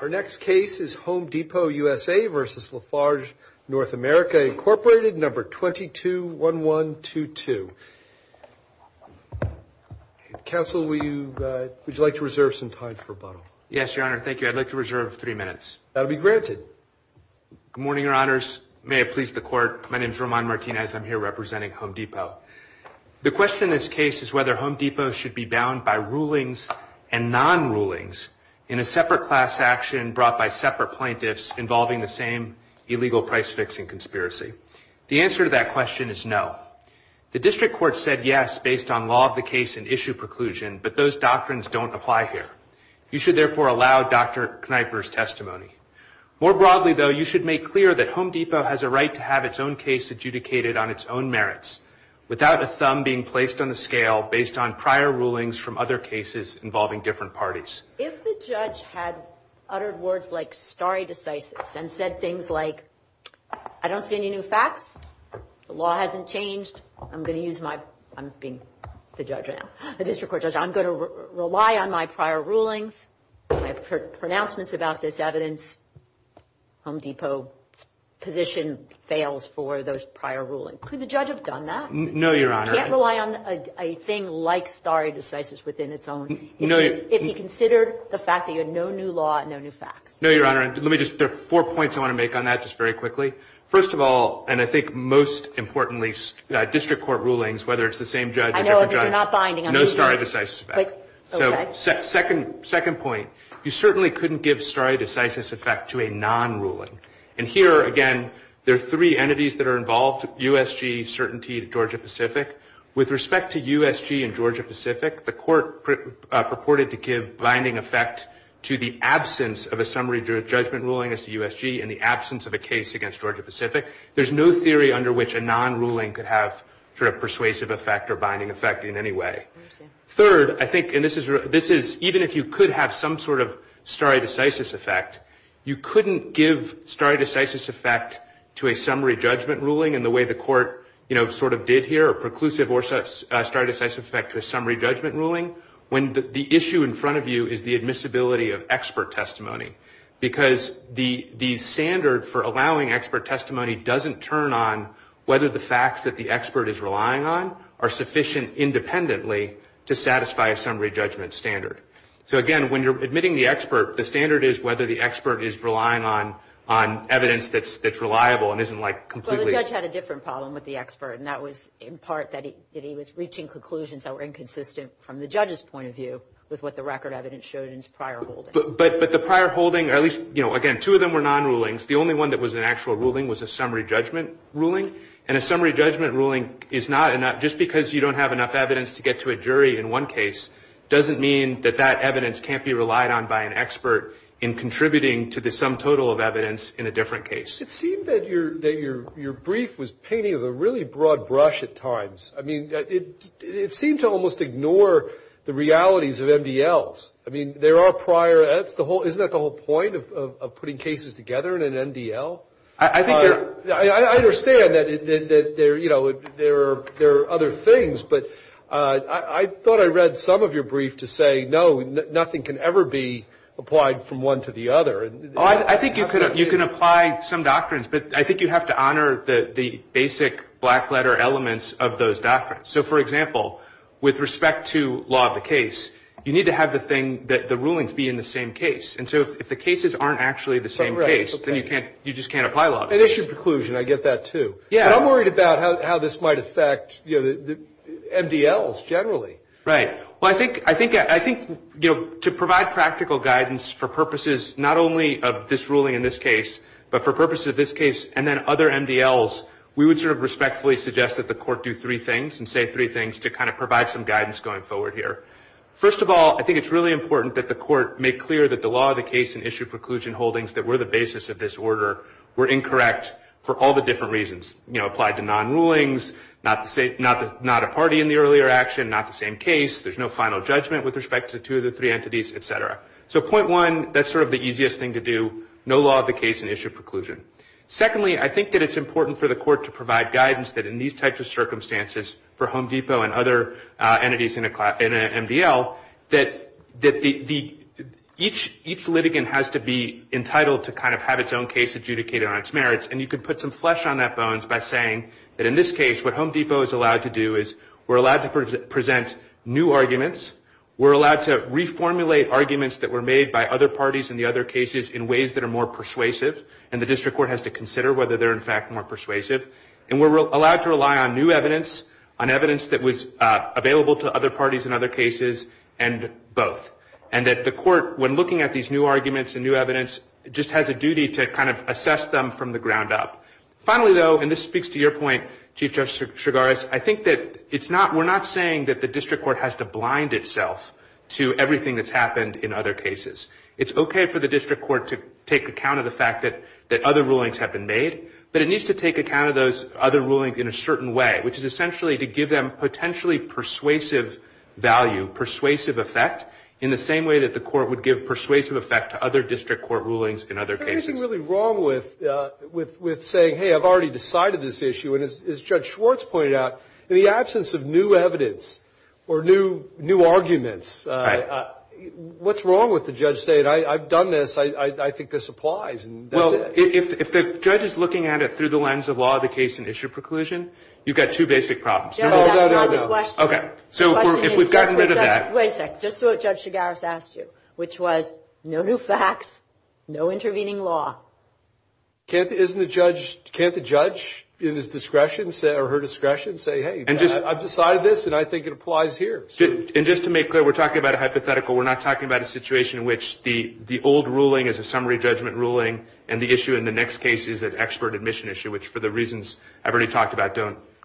Our next case is Home Depot USA vs La Farge North America, INC No. 221122. Counsel, would you like to reserve some time for rebuttal? Yes, Your Honor. Thank you. I'd like to reserve three minutes. That will be granted. Good morning, Your Honors. May I please the Court? My name is Roman Martinez. I'm here representing Home Depot. The question in this case is whether Home Depot should be bound by rulings and non-rulings in a separate class action brought by separate plaintiffs involving the same illegal price-fixing conspiracy. The answer to that question is no. The District Court said yes based on law of the case and issue preclusion, but those doctrines don't apply here. You should therefore allow Dr. Kneiper's testimony. More broadly, though, you should make clear that Home Depot has a right to have its own case adjudicated on its own merits. Without a thumb being placed on the scale based on prior rulings from other cases involving different parties. If the judge had uttered words like stare decisis and said things like, I don't see any new facts. The law hasn't changed. I'm going to use my, I'm being the judge now, the District Court judge, I'm going to rely on my prior rulings. I've heard pronouncements about this evidence. Home Depot position fails for those prior rulings. Could the judge have done that? No, Your Honor. He can't rely on a thing like stare decisis within its own, if he considered the fact that you had no new law and no new facts. No, Your Honor. Let me just, there are four points I want to make on that, just very quickly. First of all, and I think most importantly, District Court rulings, whether it's the same judge or different judge. Second point, you certainly couldn't give stare decisis effect to a non-ruling. And here, again, there are three entities that are involved, USG, certainty, Georgia-Pacific. With respect to USG and Georgia-Pacific, the court purported to give binding effect to the absence of a summary judgment ruling as to USG in the absence of a case against Georgia-Pacific. There's no theory under which a non-ruling could have sort of persuasive effect or binding effect in any way. Third, I think, and this is, even if you could have some sort of stare decisis effect, you couldn't give stare decisis effect to a summary judgment ruling in the way the court, you know, sort of did here, or preclusive stare decisis effect to a summary judgment ruling, when the issue in front of you is the admissibility of expert testimony. Because the standard for allowing expert testimony doesn't turn on whether the facts that the expert is relying on are sufficient independently to satisfy a summary judgment standard. So, again, when you're admitting the expert, the standard is whether the expert is relying on evidence that's reliable and isn't, like, completely... Well, the judge had a different problem with the expert, and that was in part that he was reaching conclusions that were inconsistent from the standard. So, again, two of them were non-rulings. The only one that was an actual ruling was a summary judgment ruling. And a summary judgment ruling is not enough. Just because you don't have enough evidence to get to a jury in one case doesn't mean that that evidence can't be relied on by an expert in another case. I think you're... I understand that there are other things, but I thought I read some of your brief to say, no, nothing can ever be applied from one to the other. I think you can apply some doctrines, but I think you have to honor the basic black letter elements of those doctrines. So, for example, with respect to law of the case, you need to have the thing that the rulings be in the same case. And so if the cases aren't actually the same case, then you just can't apply law of the case. And issue preclusion, I get that, too. But I'm worried about how this might affect MDLs generally. Right. Well, I think to provide practical guidance for purposes not only of this ruling in this case, but for purposes of this case and then other MDLs, we would sort of respectfully suggest that the court do three things and say three things to kind of provide some guidance going forward here. First of all, I think it's really important that the court make clear that the law of the case and issue preclusion holdings that were the basis of this order were incorrect for all the different reasons. You know, applied to non-rulings, not a party in the earlier action, not the same case. There's no final judgment with respect to two of the three entities, et cetera. So point one, that's sort of the easiest thing to do, no law of the case and issue preclusion. Secondly, I think that it's important for the court to provide guidance that in these types of circumstances for Home Depot and other entities in a MDL, that each litigant has to be entitled to kind of have its own case adjudicated on its merits. And you can put some flesh on that bones by saying that in this case, what Home Depot is allowed to do is we're allowed to present new arguments that were made by other parties in the other cases in ways that are more persuasive. And the district court has to consider whether they're in fact more persuasive. And we're allowed to rely on new evidence, on evidence that was available to other parties in other cases, and both. And that the court, when looking at these new arguments and new evidence, just has a duty to kind of assess them from the ground up. Finally, though, and this speaks to your point, Chief Justice Chigares, I think that it's not, we're not saying that the district court has to take account of the fact that other rulings have been made. But it needs to take account of those other rulings in a certain way, which is essentially to give them potentially persuasive value, persuasive effect, in the same way that the court would give persuasive effect to other district court rulings in other cases. Is there anything really wrong with saying, hey, I've already decided this issue, and as Judge Schwartz pointed out, in the absence of new facts, no new facts, no intervening law? What's wrong with the judge saying, I've done this, I think this applies, and that's it? Well, if the judge is looking at it through the lens of law of the case and issue preclusion, you've got two basic problems. No, no, no, no. Okay. So if we've gotten rid of that. Wait a second. Just what Judge Chigares asked you, which was no new facts, no intervening law. Can't the judge in his discretion or her discretion say, hey, I've decided this, and I think it applies here? And just to make clear, we're talking about a hypothetical. We're not talking about a situation in which the old ruling is a summary judgment ruling, and the issue in the next case is an expert admission issue, which for the reasons I've already talked about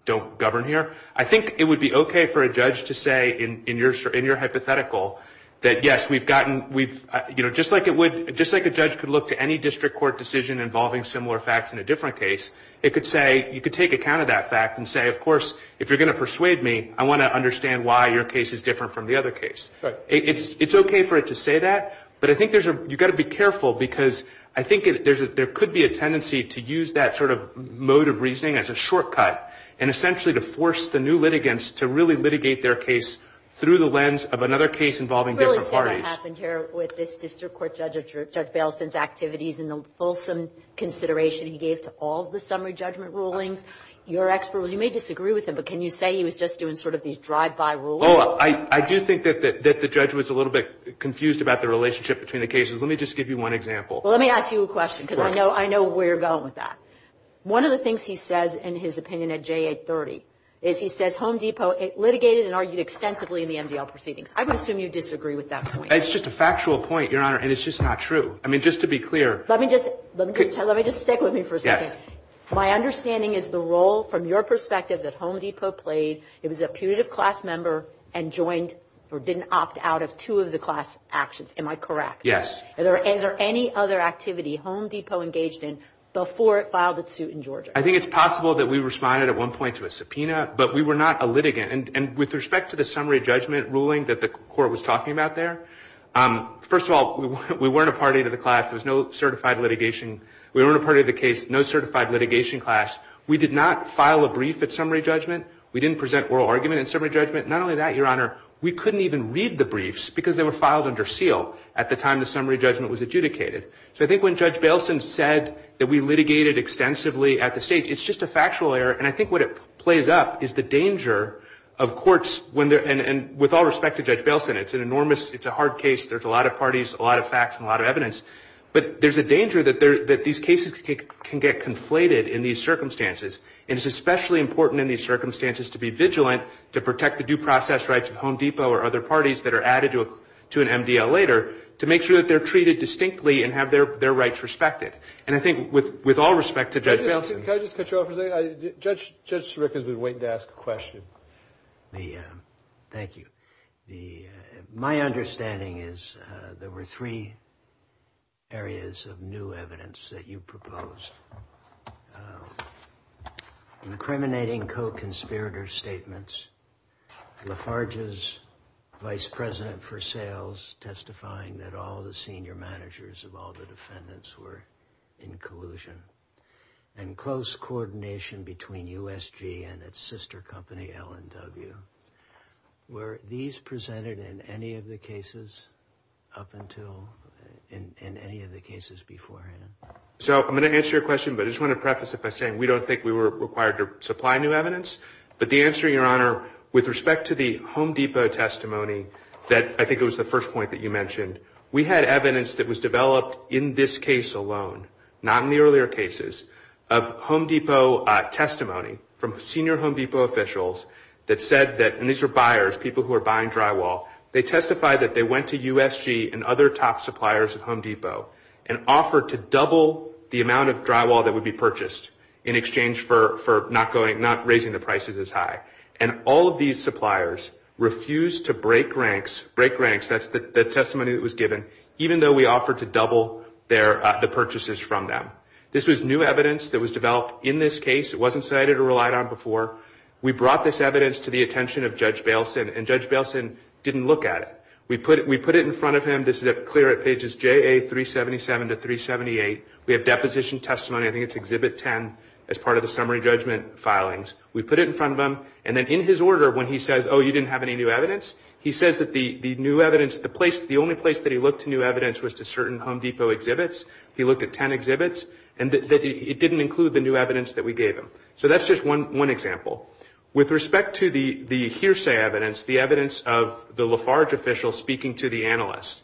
don't govern here. I think it would be okay for a judge to say in your hypothetical that, yes, we've gotten, you know, just like a judge could look to any district court decision involving similar facts in a different case, it could say, you could take account of that fact and say, of course, if you're going to persuade me, I want to understand why your case is different from the other case. It's okay for it to say that, but I think you've got to be careful, because I think there could be a tendency to use that sort of mode of reasoning as a shortcut, and essentially to force the new litigants to really litigate their case through the lens of another case involving different parties. I really don't understand what happened here with this district court judge, Judge Bailenson's activities and the fulsome consideration he gave to all the summary judgment rulings. You're an expert. You may disagree with him, but can you say he was just doing sort of these drive-by rules? Oh, I do think that the judge was a little bit confused about the relationship between the cases. Let me just give you one example. Well, let me ask you a question, because I know where you're going with that. One of the things he says in his opinion at J830 is he says Home Depot litigated and argued extensively in the MDL proceedings. I would assume you disagree with that point. It's just a factual point, Your Honor, and it's just not true. I mean, just to be clear. Let me just stick with me for a second. My understanding is the role, from your perspective, that Home Depot played, it was a putative class member and joined or didn't opt out of two of the class actions. Am I correct? Yes. Is there any other activity Home Depot engaged in before it filed its suit in Georgia? I think it's possible that we responded at one point to a subpoena, but we were not a litigant. And with respect to the summary judgment ruling that the court was talking about there, first of all, we weren't a party to the class. There was no certified litigation. We weren't a party to the case, no certified litigation class. We did not file a brief at summary judgment. We didn't present oral argument in summary judgment. Not only that, Your Honor, we couldn't even read the briefs, because they were filed under seal at the time the summary judgment was adjudicated. So I think when Judge Bailson said that we litigated extensively at the stage, it's just a factual error. And I think what it plays up is the danger of courts when they're, and with all respect to Judge Bailson, it's an enormous, it's a hard case. There's a lot of parties, a lot of facts, and a lot of evidence. But there's a danger that these cases can get conflated in these circumstances. And it's especially important in these circumstances to be vigilant to protect the due process rights of Home Depot or other parties that are added to an MDL later, to make sure that they're treated distinctly and have their rights respected. And I think with all respect to Judge Bailson. Can I just cut you off for a second? Judge Sirica's been waiting to ask a question. Thank you. My understanding is there were three areas of new evidence that you proposed, incriminating co-conspirator statements, Lafarge's vice president for sales testifying that all the senior managers of all the defendants were in collusion, and close coordination between USG and its sister company, L&W. Were these presented in any of the cases up until, in any of the cases beforehand? So I'm going to answer your question, but I just want to preface it by saying we don't think we were required to supply new evidence. But the answer, Your Honor, with respect to the Home Depot testimony that I think it was the first point that you mentioned, we had evidence that was developed in this case alone, not in the earlier cases, of Home Depot testimony from senior Home Depot officials that said that, and these were buyers, people who were buying drywall, they testified that they went to USG and other top suppliers at Home Depot and offered to double the amount of drywall that would be purchased in exchange for not raising the prices as high. And all of these suppliers refused to break ranks, break ranks, that's the testimony that was given, even though we offered to double the purchases from them. This was new evidence that was developed in this case, it wasn't cited or relied on before. We brought this evidence to the attention of Judge Bailson, and Judge Bailson didn't look at it. We put it in front of him, this is clear at pages JA377 to 378, we have deposition testimony, I think it's Exhibit 10, as part of the summary judgment filings. We put it in front of him, and then in his order, when he says, oh, you didn't have any new evidence, he says that the new evidence, the only place that he looked to new evidence was to certain Home Depot exhibits. He looked at 10 exhibits, and it didn't include the new evidence that we gave him. So that's just one example. With respect to the hearsay evidence, the evidence of the Lafarge official speaking to the analyst,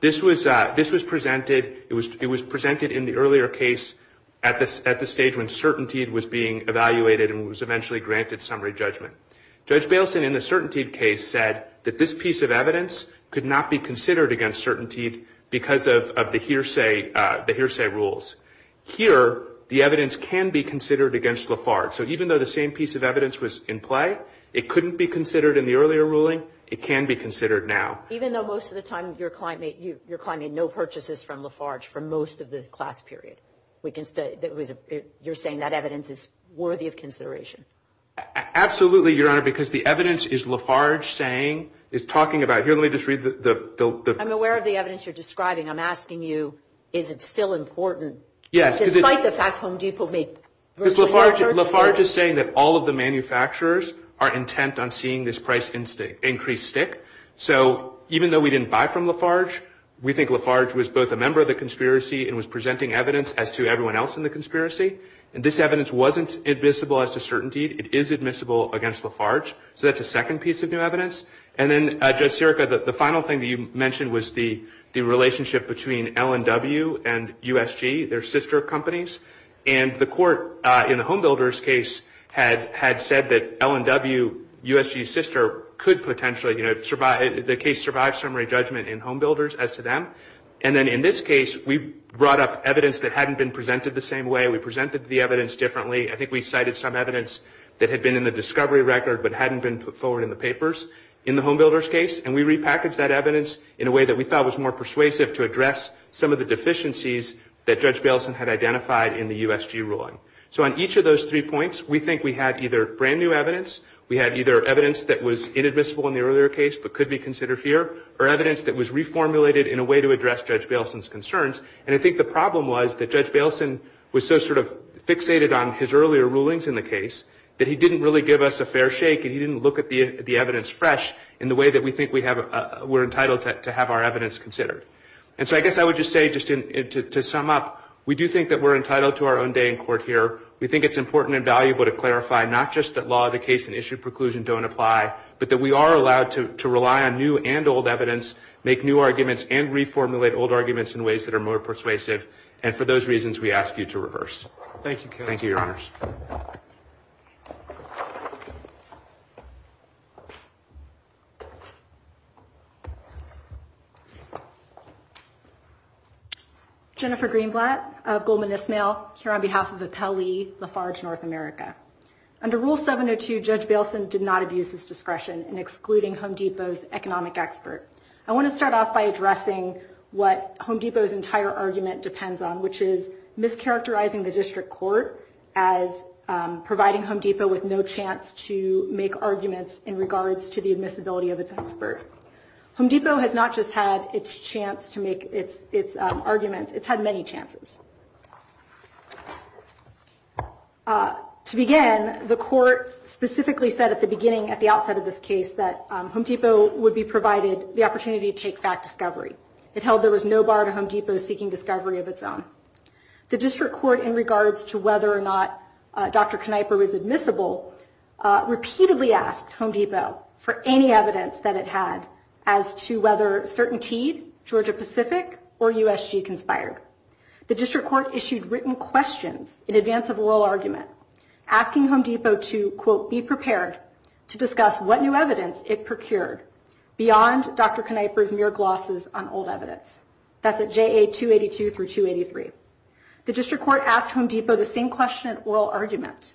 this was presented in the earlier case at the stage when certainty was being evaluated and was eventually granted summary judgment. Judge Bailson in the certainty case said that this piece of evidence could not be considered against certainty because of the hearsay rules. Here, the evidence can be considered against Lafarge. So even though the same piece of evidence was in play, it couldn't be considered in the earlier ruling, it can be considered now. Even though most of the time you're claiming no purchases from Lafarge for most of the class period? You're saying that evidence is worthy of consideration? Absolutely, Your Honor, because the evidence is Lafarge saying, is talking about, here, let me just read the... I'm aware of the evidence you're describing. I'm asking you, is it still important? Yes. Lafarge is saying that all of the manufacturers are intent on seeing this price increase stick. So even though we didn't buy from Lafarge, we think Lafarge was both a member of the conspiracy and was presenting evidence as to everyone else in the conspiracy. And this evidence wasn't admissible as to certainty. It is admissible against Lafarge. So that's a second piece of new evidence. And then, Judge Sirica, the final thing that you mentioned was the relationship between L&W and USG, their sister companies. And the court in the Home Builders case had said that L&W, USG's sister, could potentially, you know, the case survived summary judgment in Home Builders as to them. And then in this case, we brought up evidence that hadn't been presented the same way. We presented the evidence differently. I think we cited some evidence that had been in the discovery record but hadn't been put forward in the papers in the Home Builders case. And we repackaged that evidence in a way that we thought was more persuasive to address some of the deficiencies that Judge Baleson had identified in the USG ruling. So on each of those three points, we think we had either brand new evidence, we had either evidence that was inadmissible in the earlier case but could be considered here, or evidence that was reformulated in a way to address Judge Baleson's concerns. And I think the problem was that Judge Baleson was so sort of fixated on his earlier rulings in the case that he didn't really give us a fair shake and he didn't look at the evidence fresh in the way that we think we're entitled to have our evidence considered. And so I guess I would just say, just to sum up, we do think that we're entitled to our own day in court here. We think it's important and valuable to clarify not just that law of the case and issued preclusion don't apply, but that we are allowed to rely on new and old evidence, make new arguments, and reformulate old arguments in ways that are more persuasive. And for those reasons, we ask you to reverse. Thank you, counsel. Thank you, Your Honors. Jennifer Greenblatt of Goldman Ismail, here on behalf of Appellee Lafarge North America. Under Rule 702, Judge Baleson did not abuse his discretion in excluding Home Depot's economic expert. I want to start off by addressing what Home Depot's entire argument depends on, which is mischaracterizing the district court as providing Home Depot with no chance to make arguments in regards to the admissibility of its expert. Home Depot has not just had its chance to make its arguments, it's had many chances. To begin, the court specifically said at the beginning, at the outset of this case, that Home Depot would be provided the opportunity to take fact discovery. It held there was no bar to Home Depot seeking discovery of its own. The district court, in regards to whether or not Dr. Kneiper was admissible, repeatedly asked Home Depot for any evidence that it had as to whether CertainTeed, Georgia Pacific, or USG conspired. The district court issued written questions in advance of oral argument, asking Home Depot to, quote, be prepared to discuss what new evidence it procured beyond Dr. Kneiper's mere glosses on old evidence. That's at JA 282 through 283. The district court asked Home Depot the same question at oral argument.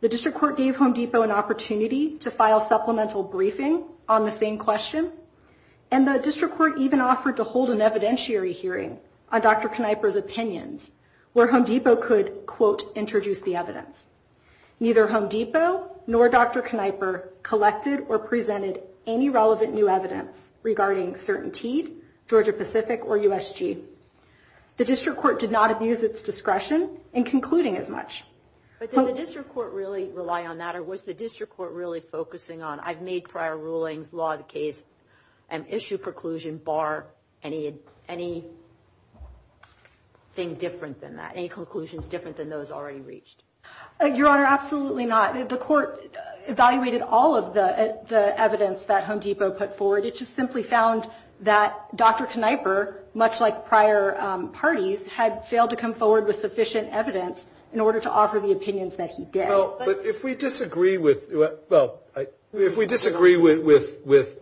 The district court gave Home Depot an opportunity to file supplemental briefing on the same question, and the district court even offered to hold an evidentiary hearing on Dr. Kneiper's opinions, where Home Depot could, quote, introduce the evidence. Neither Home Depot nor Dr. Kneiper collected or presented any relevant new evidence regarding CertainTeed, Georgia Pacific, or USG. The district court did not abuse its discretion in concluding as much. But did the district court really rely on that, or was the district court really focusing on, I've made prior rulings, law the case, and issue preclusion bar any thing different than that, any conclusions different than those already reached? Your Honor, absolutely not. The court evaluated all of the evidence that Home Depot put forward. It just simply found that Dr. Kneiper, much like prior parties, had failed to come forward with sufficient evidence in order to offer the opinions that he did. But if we disagree with, well, if we disagree with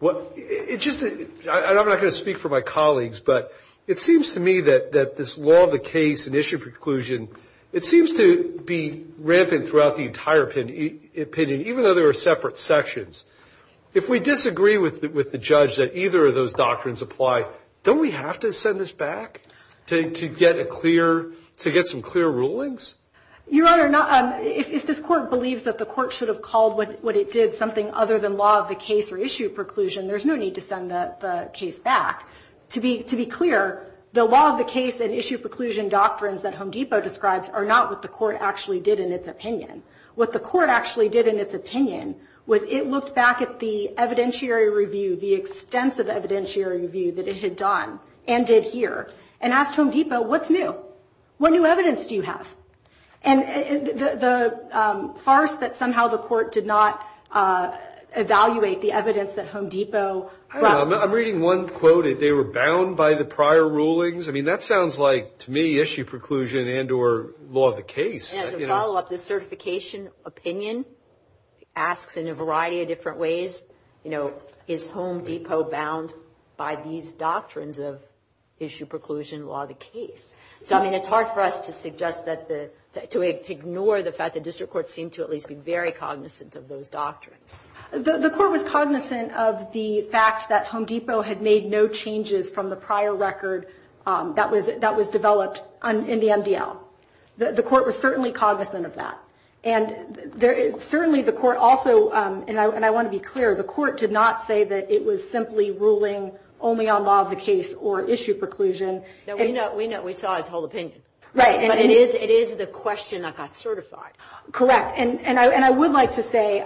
what, it just, and I'm not going to speak for my colleagues, but it seems to me that this law of the case and issue preclusion, it seems to be rampant throughout the entire opinion, even though there are separate sections. If we disagree with the judge that either of those doctrines apply, don't we have to send this back to get a clear, to get some clear rulings? Your Honor, if this court believes that the court should have called what it did something other than law of the case or issue preclusion, there's no need to send the case back. To be clear, the law of the case and issue preclusion doctrines that Home Depot describes are not what the court actually did in its opinion. What the court actually did in its opinion was it looked back at the evidentiary review, the extensive evidentiary review that it had done and did here, and asked Home Depot, what's new? What new evidence do you have? And the farce that somehow the court did not evaluate the evidence that Home Depot brought. I'm reading one quote, they were bound by the prior rulings. I mean, that sounds like, to me, issue preclusion and or law of the case. As a follow-up, the certification opinion asks in a variety of different ways, you know, is Home Depot bound by these doctrines of issue preclusion, law of the case? So, I mean, it's hard for us to suggest that the, to ignore the fact that district courts seem to at least be very cognizant of those doctrines. The court was cognizant of the fact that Home Depot had made no changes from the prior record that was developed in the MDL. The court was certainly cognizant of that. And certainly the court also, and I want to be clear, the court did not say that it was the guy's whole opinion. But it is the question that got certified. Correct. And I would like to say,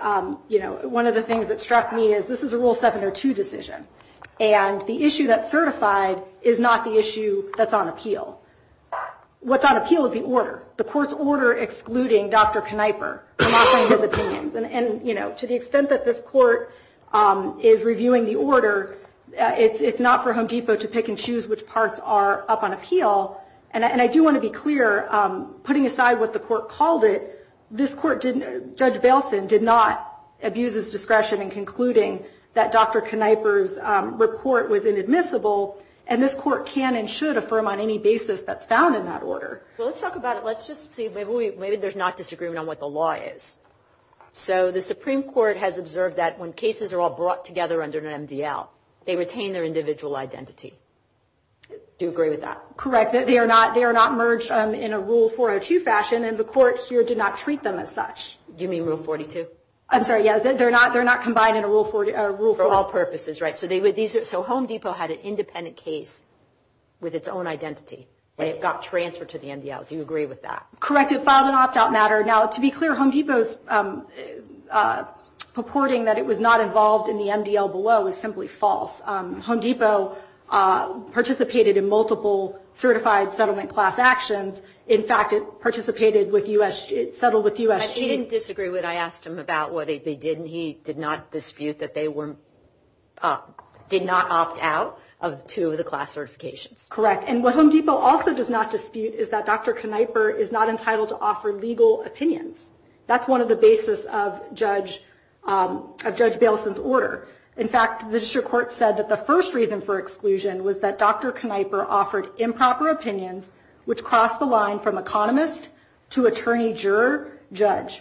you know, one of the things that struck me is this is a Rule 7 or 2 decision. And the issue that's certified is not the issue that's on appeal. What's on appeal is the order. The court's order excluding Dr. Knieper. And, you know, to the extent that this court is reviewing the order, it's not for Home Depot to pick and choose which parts are up on appeal. And I do want to be clear, putting aside what the court called it, this court, Judge Bailson, did not abuse his discretion in concluding that Dr. Knieper's report was inadmissible. And this court can and should affirm on any basis that's found in that order. Well, let's talk about it. Let's just see. Maybe there's not disagreement on what the law is. So the Supreme Court has observed that when cases are all brought together under an MDL, they retain their individual identity. Do you agree with that? Correct. They are not merged in a Rule 402 fashion, and the court here did not treat them as such. Do you mean Rule 42? I'm sorry. Yeah. They're not combined in a Rule 42. For all purposes, right. So Home Depot had an independent case with its own identity. It got transferred to the MDL. Do you agree with that? Correct. It filed an opt-out matter. Now, to be clear, Home Depot's purporting that it was not involved in the MDL below is simply false. Home Depot participated in multiple certified settlement class actions. In fact, it participated with U.S. settled with U.S. He didn't disagree when I asked him about what they did, and he did not dispute that they were did not opt out of two of the class certifications. Correct. And what Home Depot also does not dispute is that Dr. Knieper is not entitled to offer legal opinions. That's one of the basis of Judge Baleson's order. In fact, the district court said that the first reason for exclusion was that Dr. Knieper offered improper opinions, which crossed the line from economist to attorney, juror, judge.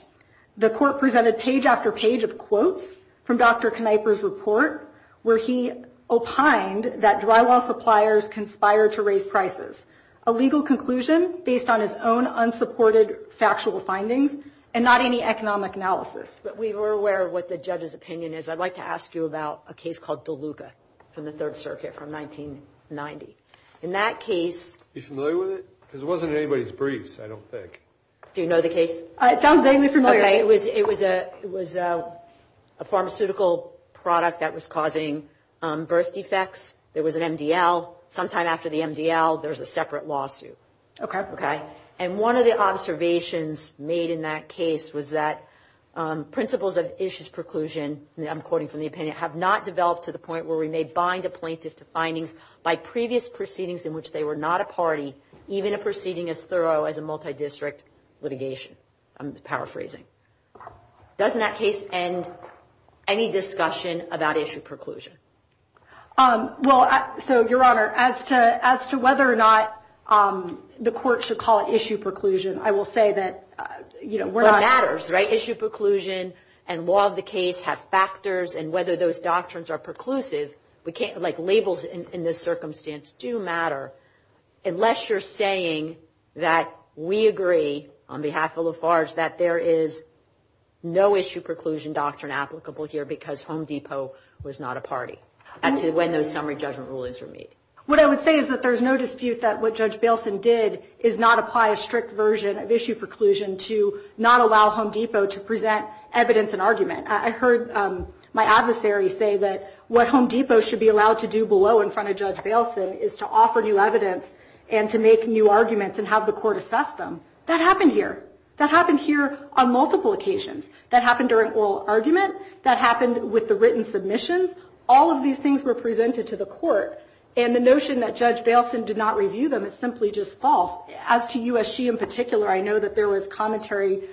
The court presented page after page of quotes from Dr. Knieper's report where he opined that drywall suppliers conspire to raise prices, a legal conclusion based on his own unsupported factual findings and not any economic analysis. But we were aware of what the judge's opinion is. I'd like to ask you about a case called DeLuca from the Third Circuit from 1990. In that case. You familiar with it? Because it wasn't anybody's briefs, I don't think. Do you know the case? It sounds vaguely familiar. It was it was a it was a pharmaceutical product that was causing birth defects. There was an MDL sometime after the MDL. There's a separate lawsuit. OK. OK. And one of the observations made in that case was that principles of issues preclusion, I'm quoting from the opinion, have not developed to the point where we may bind a plaintiff to findings by previous proceedings in which they were not a party, even a proceeding as thorough as a multidistrict litigation. I'm paraphrasing. Doesn't that case end any discussion about issue preclusion? Well, so, Your Honor, as to as to whether or not the court should call it issue preclusion, I will say that, you know, what matters, right? Issue preclusion and law of the case have factors. And whether those doctrines are preclusive, we can't like labels in this circumstance do matter. Unless you're saying that we agree on behalf of Lafarge that there is no issue preclusion doctrine applicable here, because Home Depot was not a party to when those summary judgment rulings were made. What I would say is that there's no dispute that what Judge Bailson did is not apply a strict version of issue preclusion to not allow Home Depot to present evidence and argument. I heard my adversary say that what Home Depot should be allowed to do below in front of Judge Bailson is to offer new evidence and to make new arguments and have the court assess them. That happened here. That happened here on multiple occasions. That happened during oral argument. That happened with the written submissions. All of these things were presented to the court. And the notion that Judge Bailson did not review them is simply just false. As to USG in particular, I know that there was commentary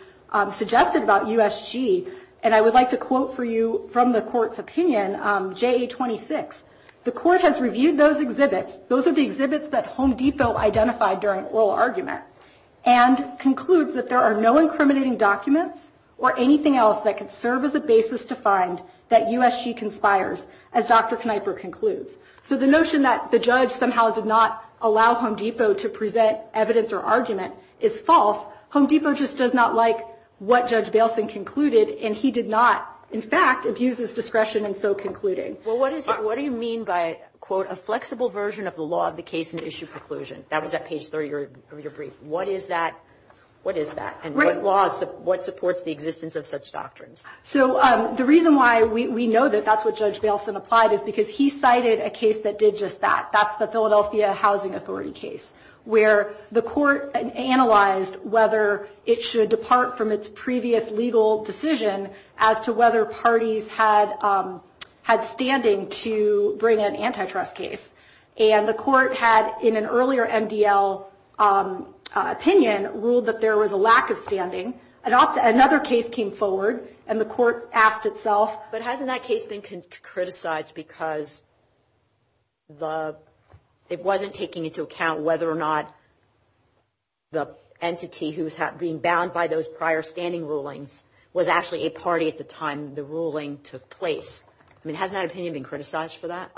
suggested about USG. And I would like to quote for you from the court's opinion, JA-26. The court has reviewed those exhibits. Those are the exhibits that Home Depot identified during oral argument and concludes that there are no incriminating documents or anything else that could serve as a basis to find that USG conspires, as Dr. Kneiper concludes. So the notion that the judge somehow did not allow Home Depot to present evidence or argument is false. Home Depot just does not like what Judge Bailson concluded. And he did not, in fact, abuse his discretion in so concluding. Well, what do you mean by, quote, a flexible version of the law of the case and issue preclusion? That was at page 30 of your brief. What is that? What is that? And what supports the existence of such doctrines? So the reason why we know that that's what Judge Bailson applied is because he cited a case that did just that. That's the Philadelphia Housing Authority case, where the court analyzed whether it should depart from its previous legal decision as to whether parties had standing to bring an antitrust case. And the court had, in an earlier MDL opinion, ruled that there was a lack of standing. Another case came forward, and the court asked itself, But hasn't that case been criticized because it wasn't taking into account whether or not the entity who's being bound by those prior standing rulings was actually a party at the time the ruling took place? I mean, has that opinion been criticized for that?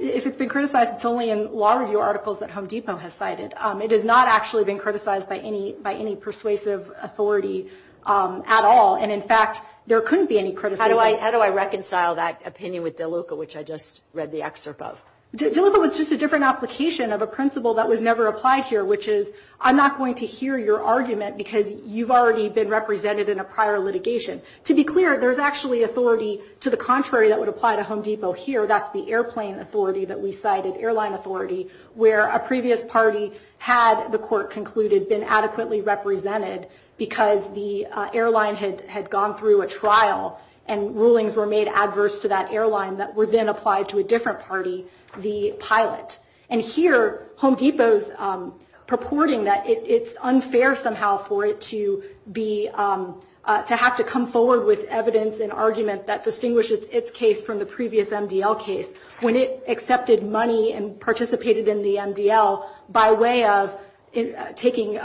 If it's been criticized, it's only in law review articles that Home Depot has cited. It has not actually been criticized by any by any persuasive authority at all. And in fact, there couldn't be any criticism. How do I reconcile that opinion with DeLuca, which I just read the excerpt of? DeLuca was just a different application of a principle that was never applied here, which is, I'm not going to hear your argument because you've already been represented in a prior litigation. To be clear, there's actually authority to the contrary that would apply to Home Depot here. That's the airplane authority that we cited, airline authority, where a previous party had, the court concluded, had been adequately represented because the airline had gone through a trial and rulings were made adverse to that airline that were then applied to a different party, the pilot. And here, Home Depot's purporting that it's unfair somehow for it to be, to have to come forward with evidence and argument that distinguishes its case from the previous MDL case. When it accepted money and participated in the MDL by way of taking,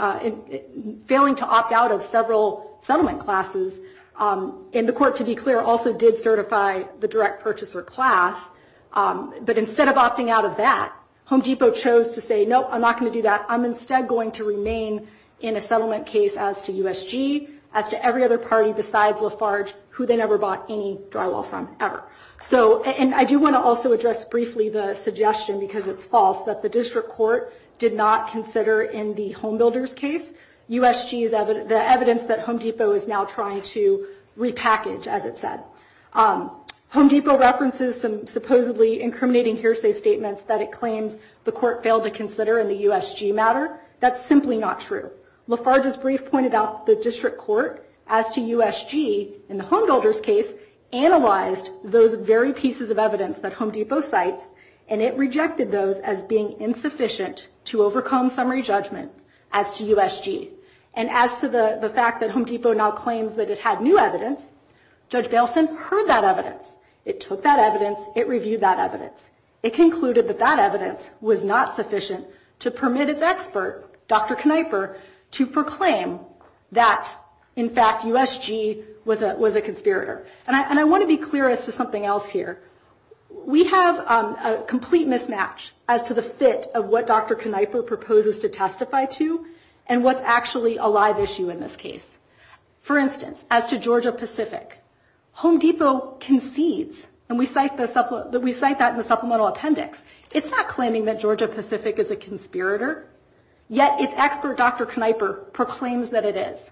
failing to opt out of several settlement classes, and the court, to be clear, also did certify the direct purchaser class. But instead of opting out of that, Home Depot chose to say, no, I'm not going to do that. I'm instead going to remain in a settlement case as to USG, as to every other party besides Lafarge, who they never bought any drywall from, ever. So, and I do want to also address briefly the suggestion, because it's false, that the district court did not consider in the Home Builders case USG's evidence, the evidence that Home Depot is now trying to repackage, as it said. Home Depot references some supposedly incriminating hearsay statements that it claims the court failed to consider in the USG matter. That's simply not true. Lafarge's brief pointed out the district court as to USG, in the Home Builders case, analyzed those very pieces of evidence that Home Depot cites, and it rejected those as being insufficient to overcome summary judgment as to USG. And as to the fact that Home Depot now claims that it had new evidence, Judge Bailson heard that evidence. It took that evidence. It reviewed that evidence. It concluded that that evidence was not sufficient to permit its expert, Dr. Kneiper, to proclaim that, in fact, USG was a conspirator. And I want to be clear as to something else here. We have a complete mismatch as to the fit of what Dr. Kneiper proposes to testify to, and what's actually a live issue in this case. For instance, as to Georgia Pacific, Home Depot concedes, and we cite that in the supplemental appendix, it's not claiming that Georgia Pacific is a conspirator, yet its expert, Dr. Kneiper, proclaims that it is.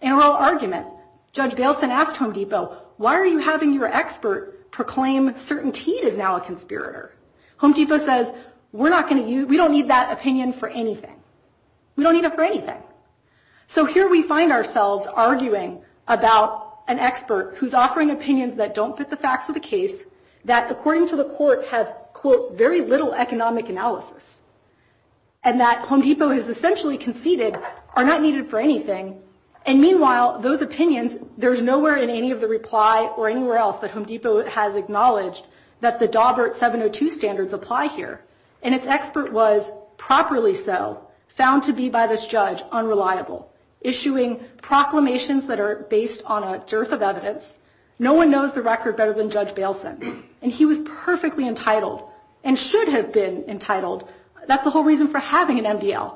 In a raw argument, Judge Bailson asked Home Depot, why are you having your expert proclaim CertainTeed is now a conspirator? Home Depot says, we don't need that opinion for anything. We don't need it for anything. So here we find ourselves arguing about an expert who's offering opinions that don't fit the facts of the case, that, according to the court, have, quote, very little economic analysis, and that Home Depot has essentially conceded are not needed for anything. And meanwhile, those opinions, there's nowhere in any of the reply or anywhere else that Home Depot has acknowledged that the Dawbert 702 standards apply here. And its expert was properly so, found to be by this judge unreliable, issuing proclamations that are based on a dearth of evidence. No one knows the record better than Judge Bailson. And he was perfectly entitled, and should have been entitled, that's the whole reason for having an MDL,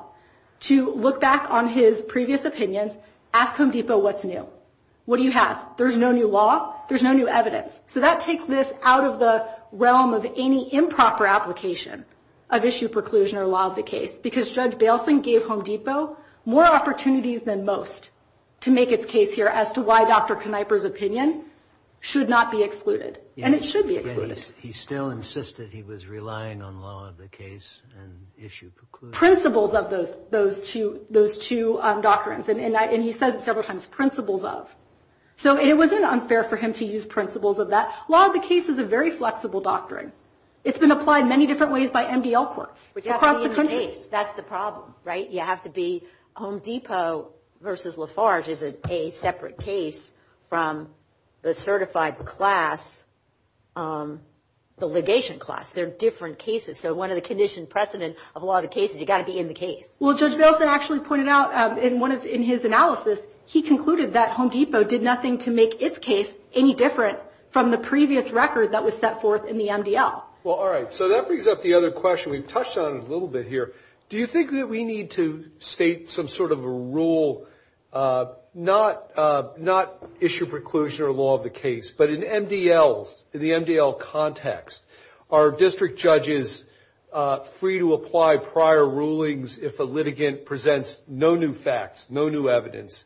to look back on his previous opinions, ask Home Depot what's new. What do you have? There's no new law. There's no new evidence. So that takes this out of the realm of any improper application of issue preclusion or law of the case, because Judge Bailson gave Home Depot more opportunities than most to make its case here as to why Dr. Knieper's opinion should not be excluded. And it should be excluded. He still insisted he was relying on law of the case and issue preclusion. Principles of those two doctrines. And he said it several times, principles of. So it wasn't unfair for him to use principles of that. Law of the case is a very flexible doctrine. It's been applied many different ways by MDL courts across the country. But you have to be in the case. That's the problem, right? You have to be Home Depot versus Lafarge is a separate case from the certified class, the litigation class. They're different cases. So one of the conditioned precedent of law of the case is you've got to be in the case. Well, Judge Bailson actually pointed out in his analysis, he concluded that Home Depot did nothing to make its case any different from the previous record that was set forth in the MDL. Well, all right. So that brings up the other question we've touched on a little bit here. Do you think that we need to state some sort of a rule, not issue preclusion or law of the case, but in MDLs, in the MDL context, are district judges free to apply prior rulings if a litigant presents no new facts, no new evidence,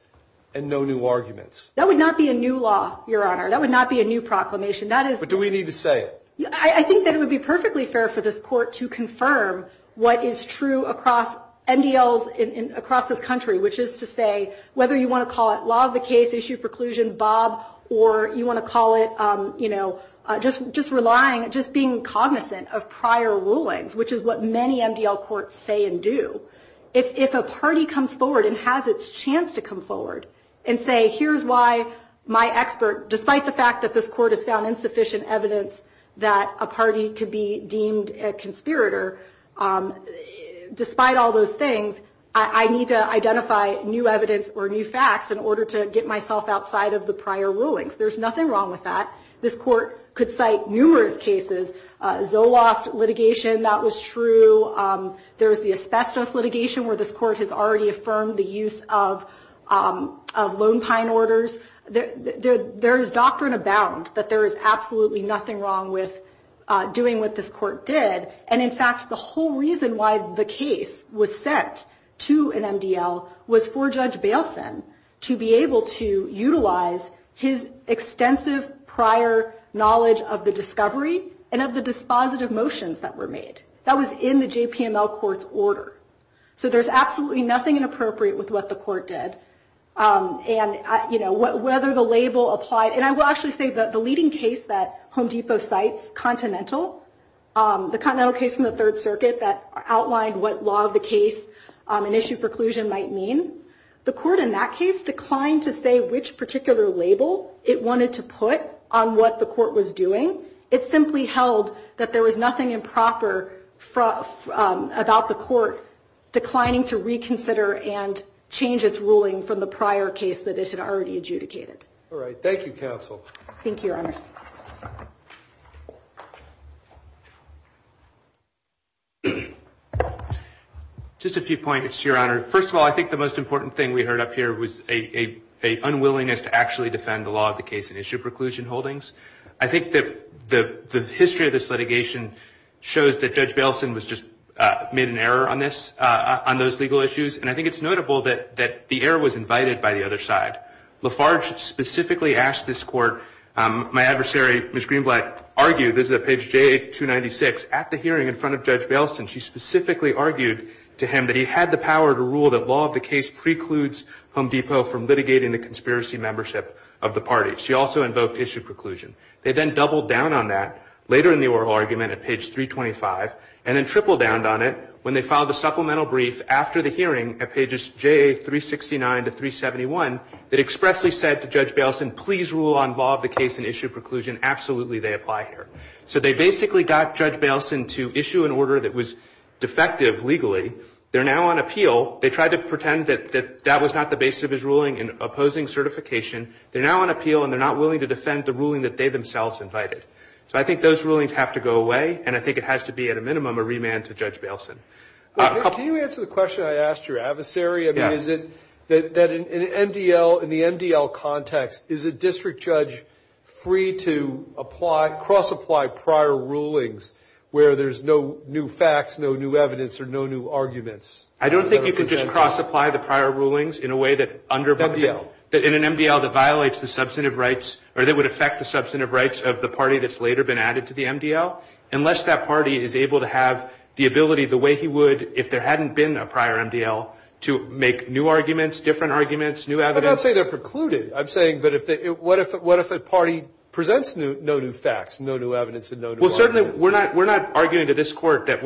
and no new arguments? That would not be a new law, Your Honor. That would not be a new proclamation. But do we need to say it? I think that it would be perfectly fair for this court to confirm what is true across MDLs across this country, which is to say whether you want to call it law of the case, issue preclusion, Bob, or you want to call it just relying, just being cognizant of prior rulings, which is what many MDL courts say and do. If a party comes forward and has its chance to come forward and say, here's why my expert, despite the fact that this court has found insufficient evidence that a party could be deemed a conspirator, despite all those things, I need to identify new evidence or new facts in order to get myself outside of the prior rulings. There's nothing wrong with that. This court could cite numerous cases. Zoloft litigation, that was true. There's the asbestos litigation where this court has already affirmed the use of Lone Pine orders. There is doctrine abound that there is absolutely nothing wrong with doing what this court did. And, in fact, the whole reason why the case was sent to an MDL was for Judge Bailson to be able to utilize his extensive prior knowledge of the discovery and of the dispositive motions that were made. That was in the JPML court's order. So there's absolutely nothing inappropriate with what the court did. And whether the label applied, and I will actually say that the leading case that Home Depot cites, Continental, the Continental case from the Third Circuit that outlined what law of the case and issue preclusion might mean, the court in that case declined to say which particular label it wanted to put on what the court was doing. It simply held that there was nothing improper about the court declining to reconsider and change its ruling from the prior case that it had already adjudicated. All right. Thank you, counsel. Thank you, Your Honors. Just a few points, Your Honor. First of all, I think the most important thing we heard up here was an unwillingness to actually defend the law of the case and issue preclusion holdings. I think that the history of this litigation shows that Judge Bailison was just made an error on this, on those legal issues. And I think it's notable that the error was invited by the other side. Lafarge specifically asked this court, my adversary, Ms. Greenblatt, argued, this is at page 296, at the hearing in front of Judge Bailison, she specifically argued to him that he had the power to rule that law of the case precludes Home Depot from litigating the conspiracy membership of the party. She also invoked issue preclusion. They then doubled down on that later in the oral argument at page 325 and then tripled down on it when they filed a supplemental brief after the hearing at pages J369 to 371 that expressly said to Judge Bailison, please rule on law of the case and issue preclusion. Absolutely, they apply here. So they basically got Judge Bailison to issue an order that was defective legally. They're now on appeal. They tried to pretend that that was not the basis of his ruling in opposing certification. They're now on appeal, and they're not willing to defend the ruling that they themselves invited. So I think those rulings have to go away, and I think it has to be, at a minimum, a remand to Judge Bailison. Can you answer the question I asked your adversary? I mean, is it that in the MDL context, is a district judge free to cross-apply prior rulings where there's no new facts, no new evidence, or no new arguments? I don't think you can just cross-apply the prior rulings in a way that under- MDL. In an MDL that violates the substantive rights, or that would affect the substantive rights of the party that's later been added to the MDL, unless that party is able to have the ability, the way he would if there hadn't been a prior MDL, to make new arguments, different arguments, new evidence. I'm not saying they're precluded. I'm saying, but what if a party presents no new facts, no new evidence, and no new arguments? Well, certainly we're not arguing to this Court that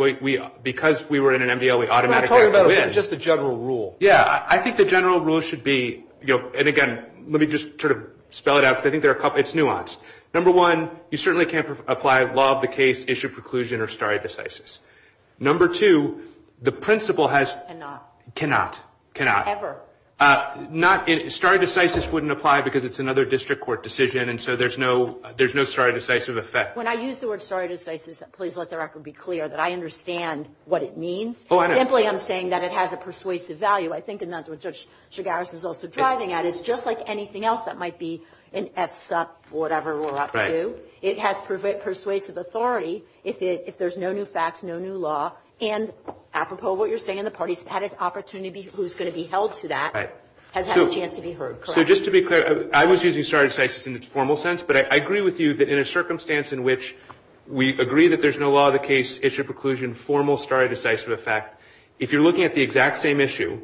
because we were in an MDL, we automatically have to win. I'm talking about just the general rule. Yeah. I think the general rule should be, and, again, let me just sort of spell it out because I think it's nuanced. Number one, you certainly can't apply law of the case, issue preclusion, or stare decisis. Number two, the principle has- Cannot. Cannot. Cannot. Ever. Stare decisis wouldn't apply because it's another district court decision, and so there's no stare decisis effect. When I use the word stare decisis, please let the record be clear that I understand what it means. Oh, I know. Simply I'm saying that it has a persuasive value. I think that's what Judge Chigaris is also driving at. It's just like anything else that might be an F-sup, whatever we're up to. Right. It has persuasive authority if there's no new facts, no new law. And apropos of what you're saying, the parties had an opportunity who's going to be held to that- Right. Has had a chance to be heard, correct? So just to be clear, I was using stare decisis in its formal sense, but I agree with you that in a circumstance in which we agree that there's no law of the case, issue preclusion, and formal stare decisis effect, if you're looking at the exact same issue,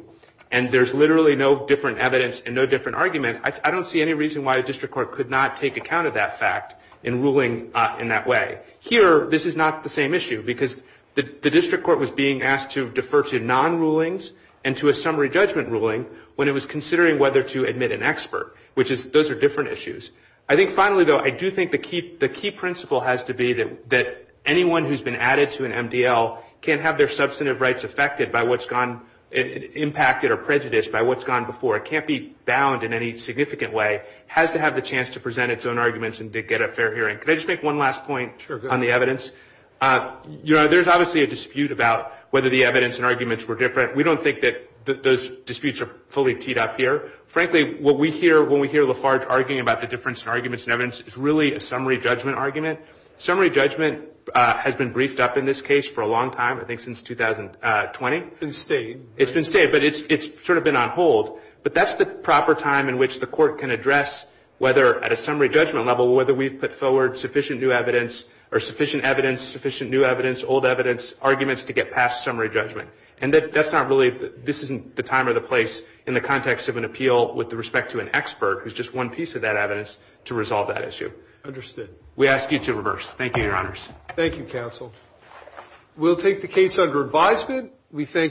and there's literally no different evidence and no different argument, I don't see any reason why a district court could not take account of that fact in ruling in that way. Here, this is not the same issue because the district court was being asked to defer to non-rulings and to a summary judgment ruling when it was considering whether to admit an expert, which those are different issues. I think finally, though, I do think the key principle has to be that anyone who's been added to an MDL can't have their substantive rights affected by what's gone-impacted or prejudiced by what's gone before. It can't be bound in any significant way. It has to have the chance to present its own arguments and to get a fair hearing. Could I just make one last point on the evidence? Sure, go ahead. You know, there's obviously a dispute about whether the evidence and arguments were different. We don't think that those disputes are fully teed up here. Frankly, what we hear when we hear Lafarge arguing about the difference in arguments and evidence is really a summary judgment argument. Summary judgment has been briefed up in this case for a long time, I think since 2020. It's been stayed. It's been stayed, but it's sort of been on hold. But that's the proper time in which the court can address whether at a summary judgment level whether we've put forward sufficient new evidence or sufficient evidence, sufficient new evidence, old evidence, arguments to get past summary judgment. And that's not really, this isn't the time or the place in the context of an appeal with respect to an expert who's just one piece of that evidence to resolve that issue. Understood. We ask you to reverse. Thank you, Your Honors. Thank you, Counsel. We'll take the case under advisement.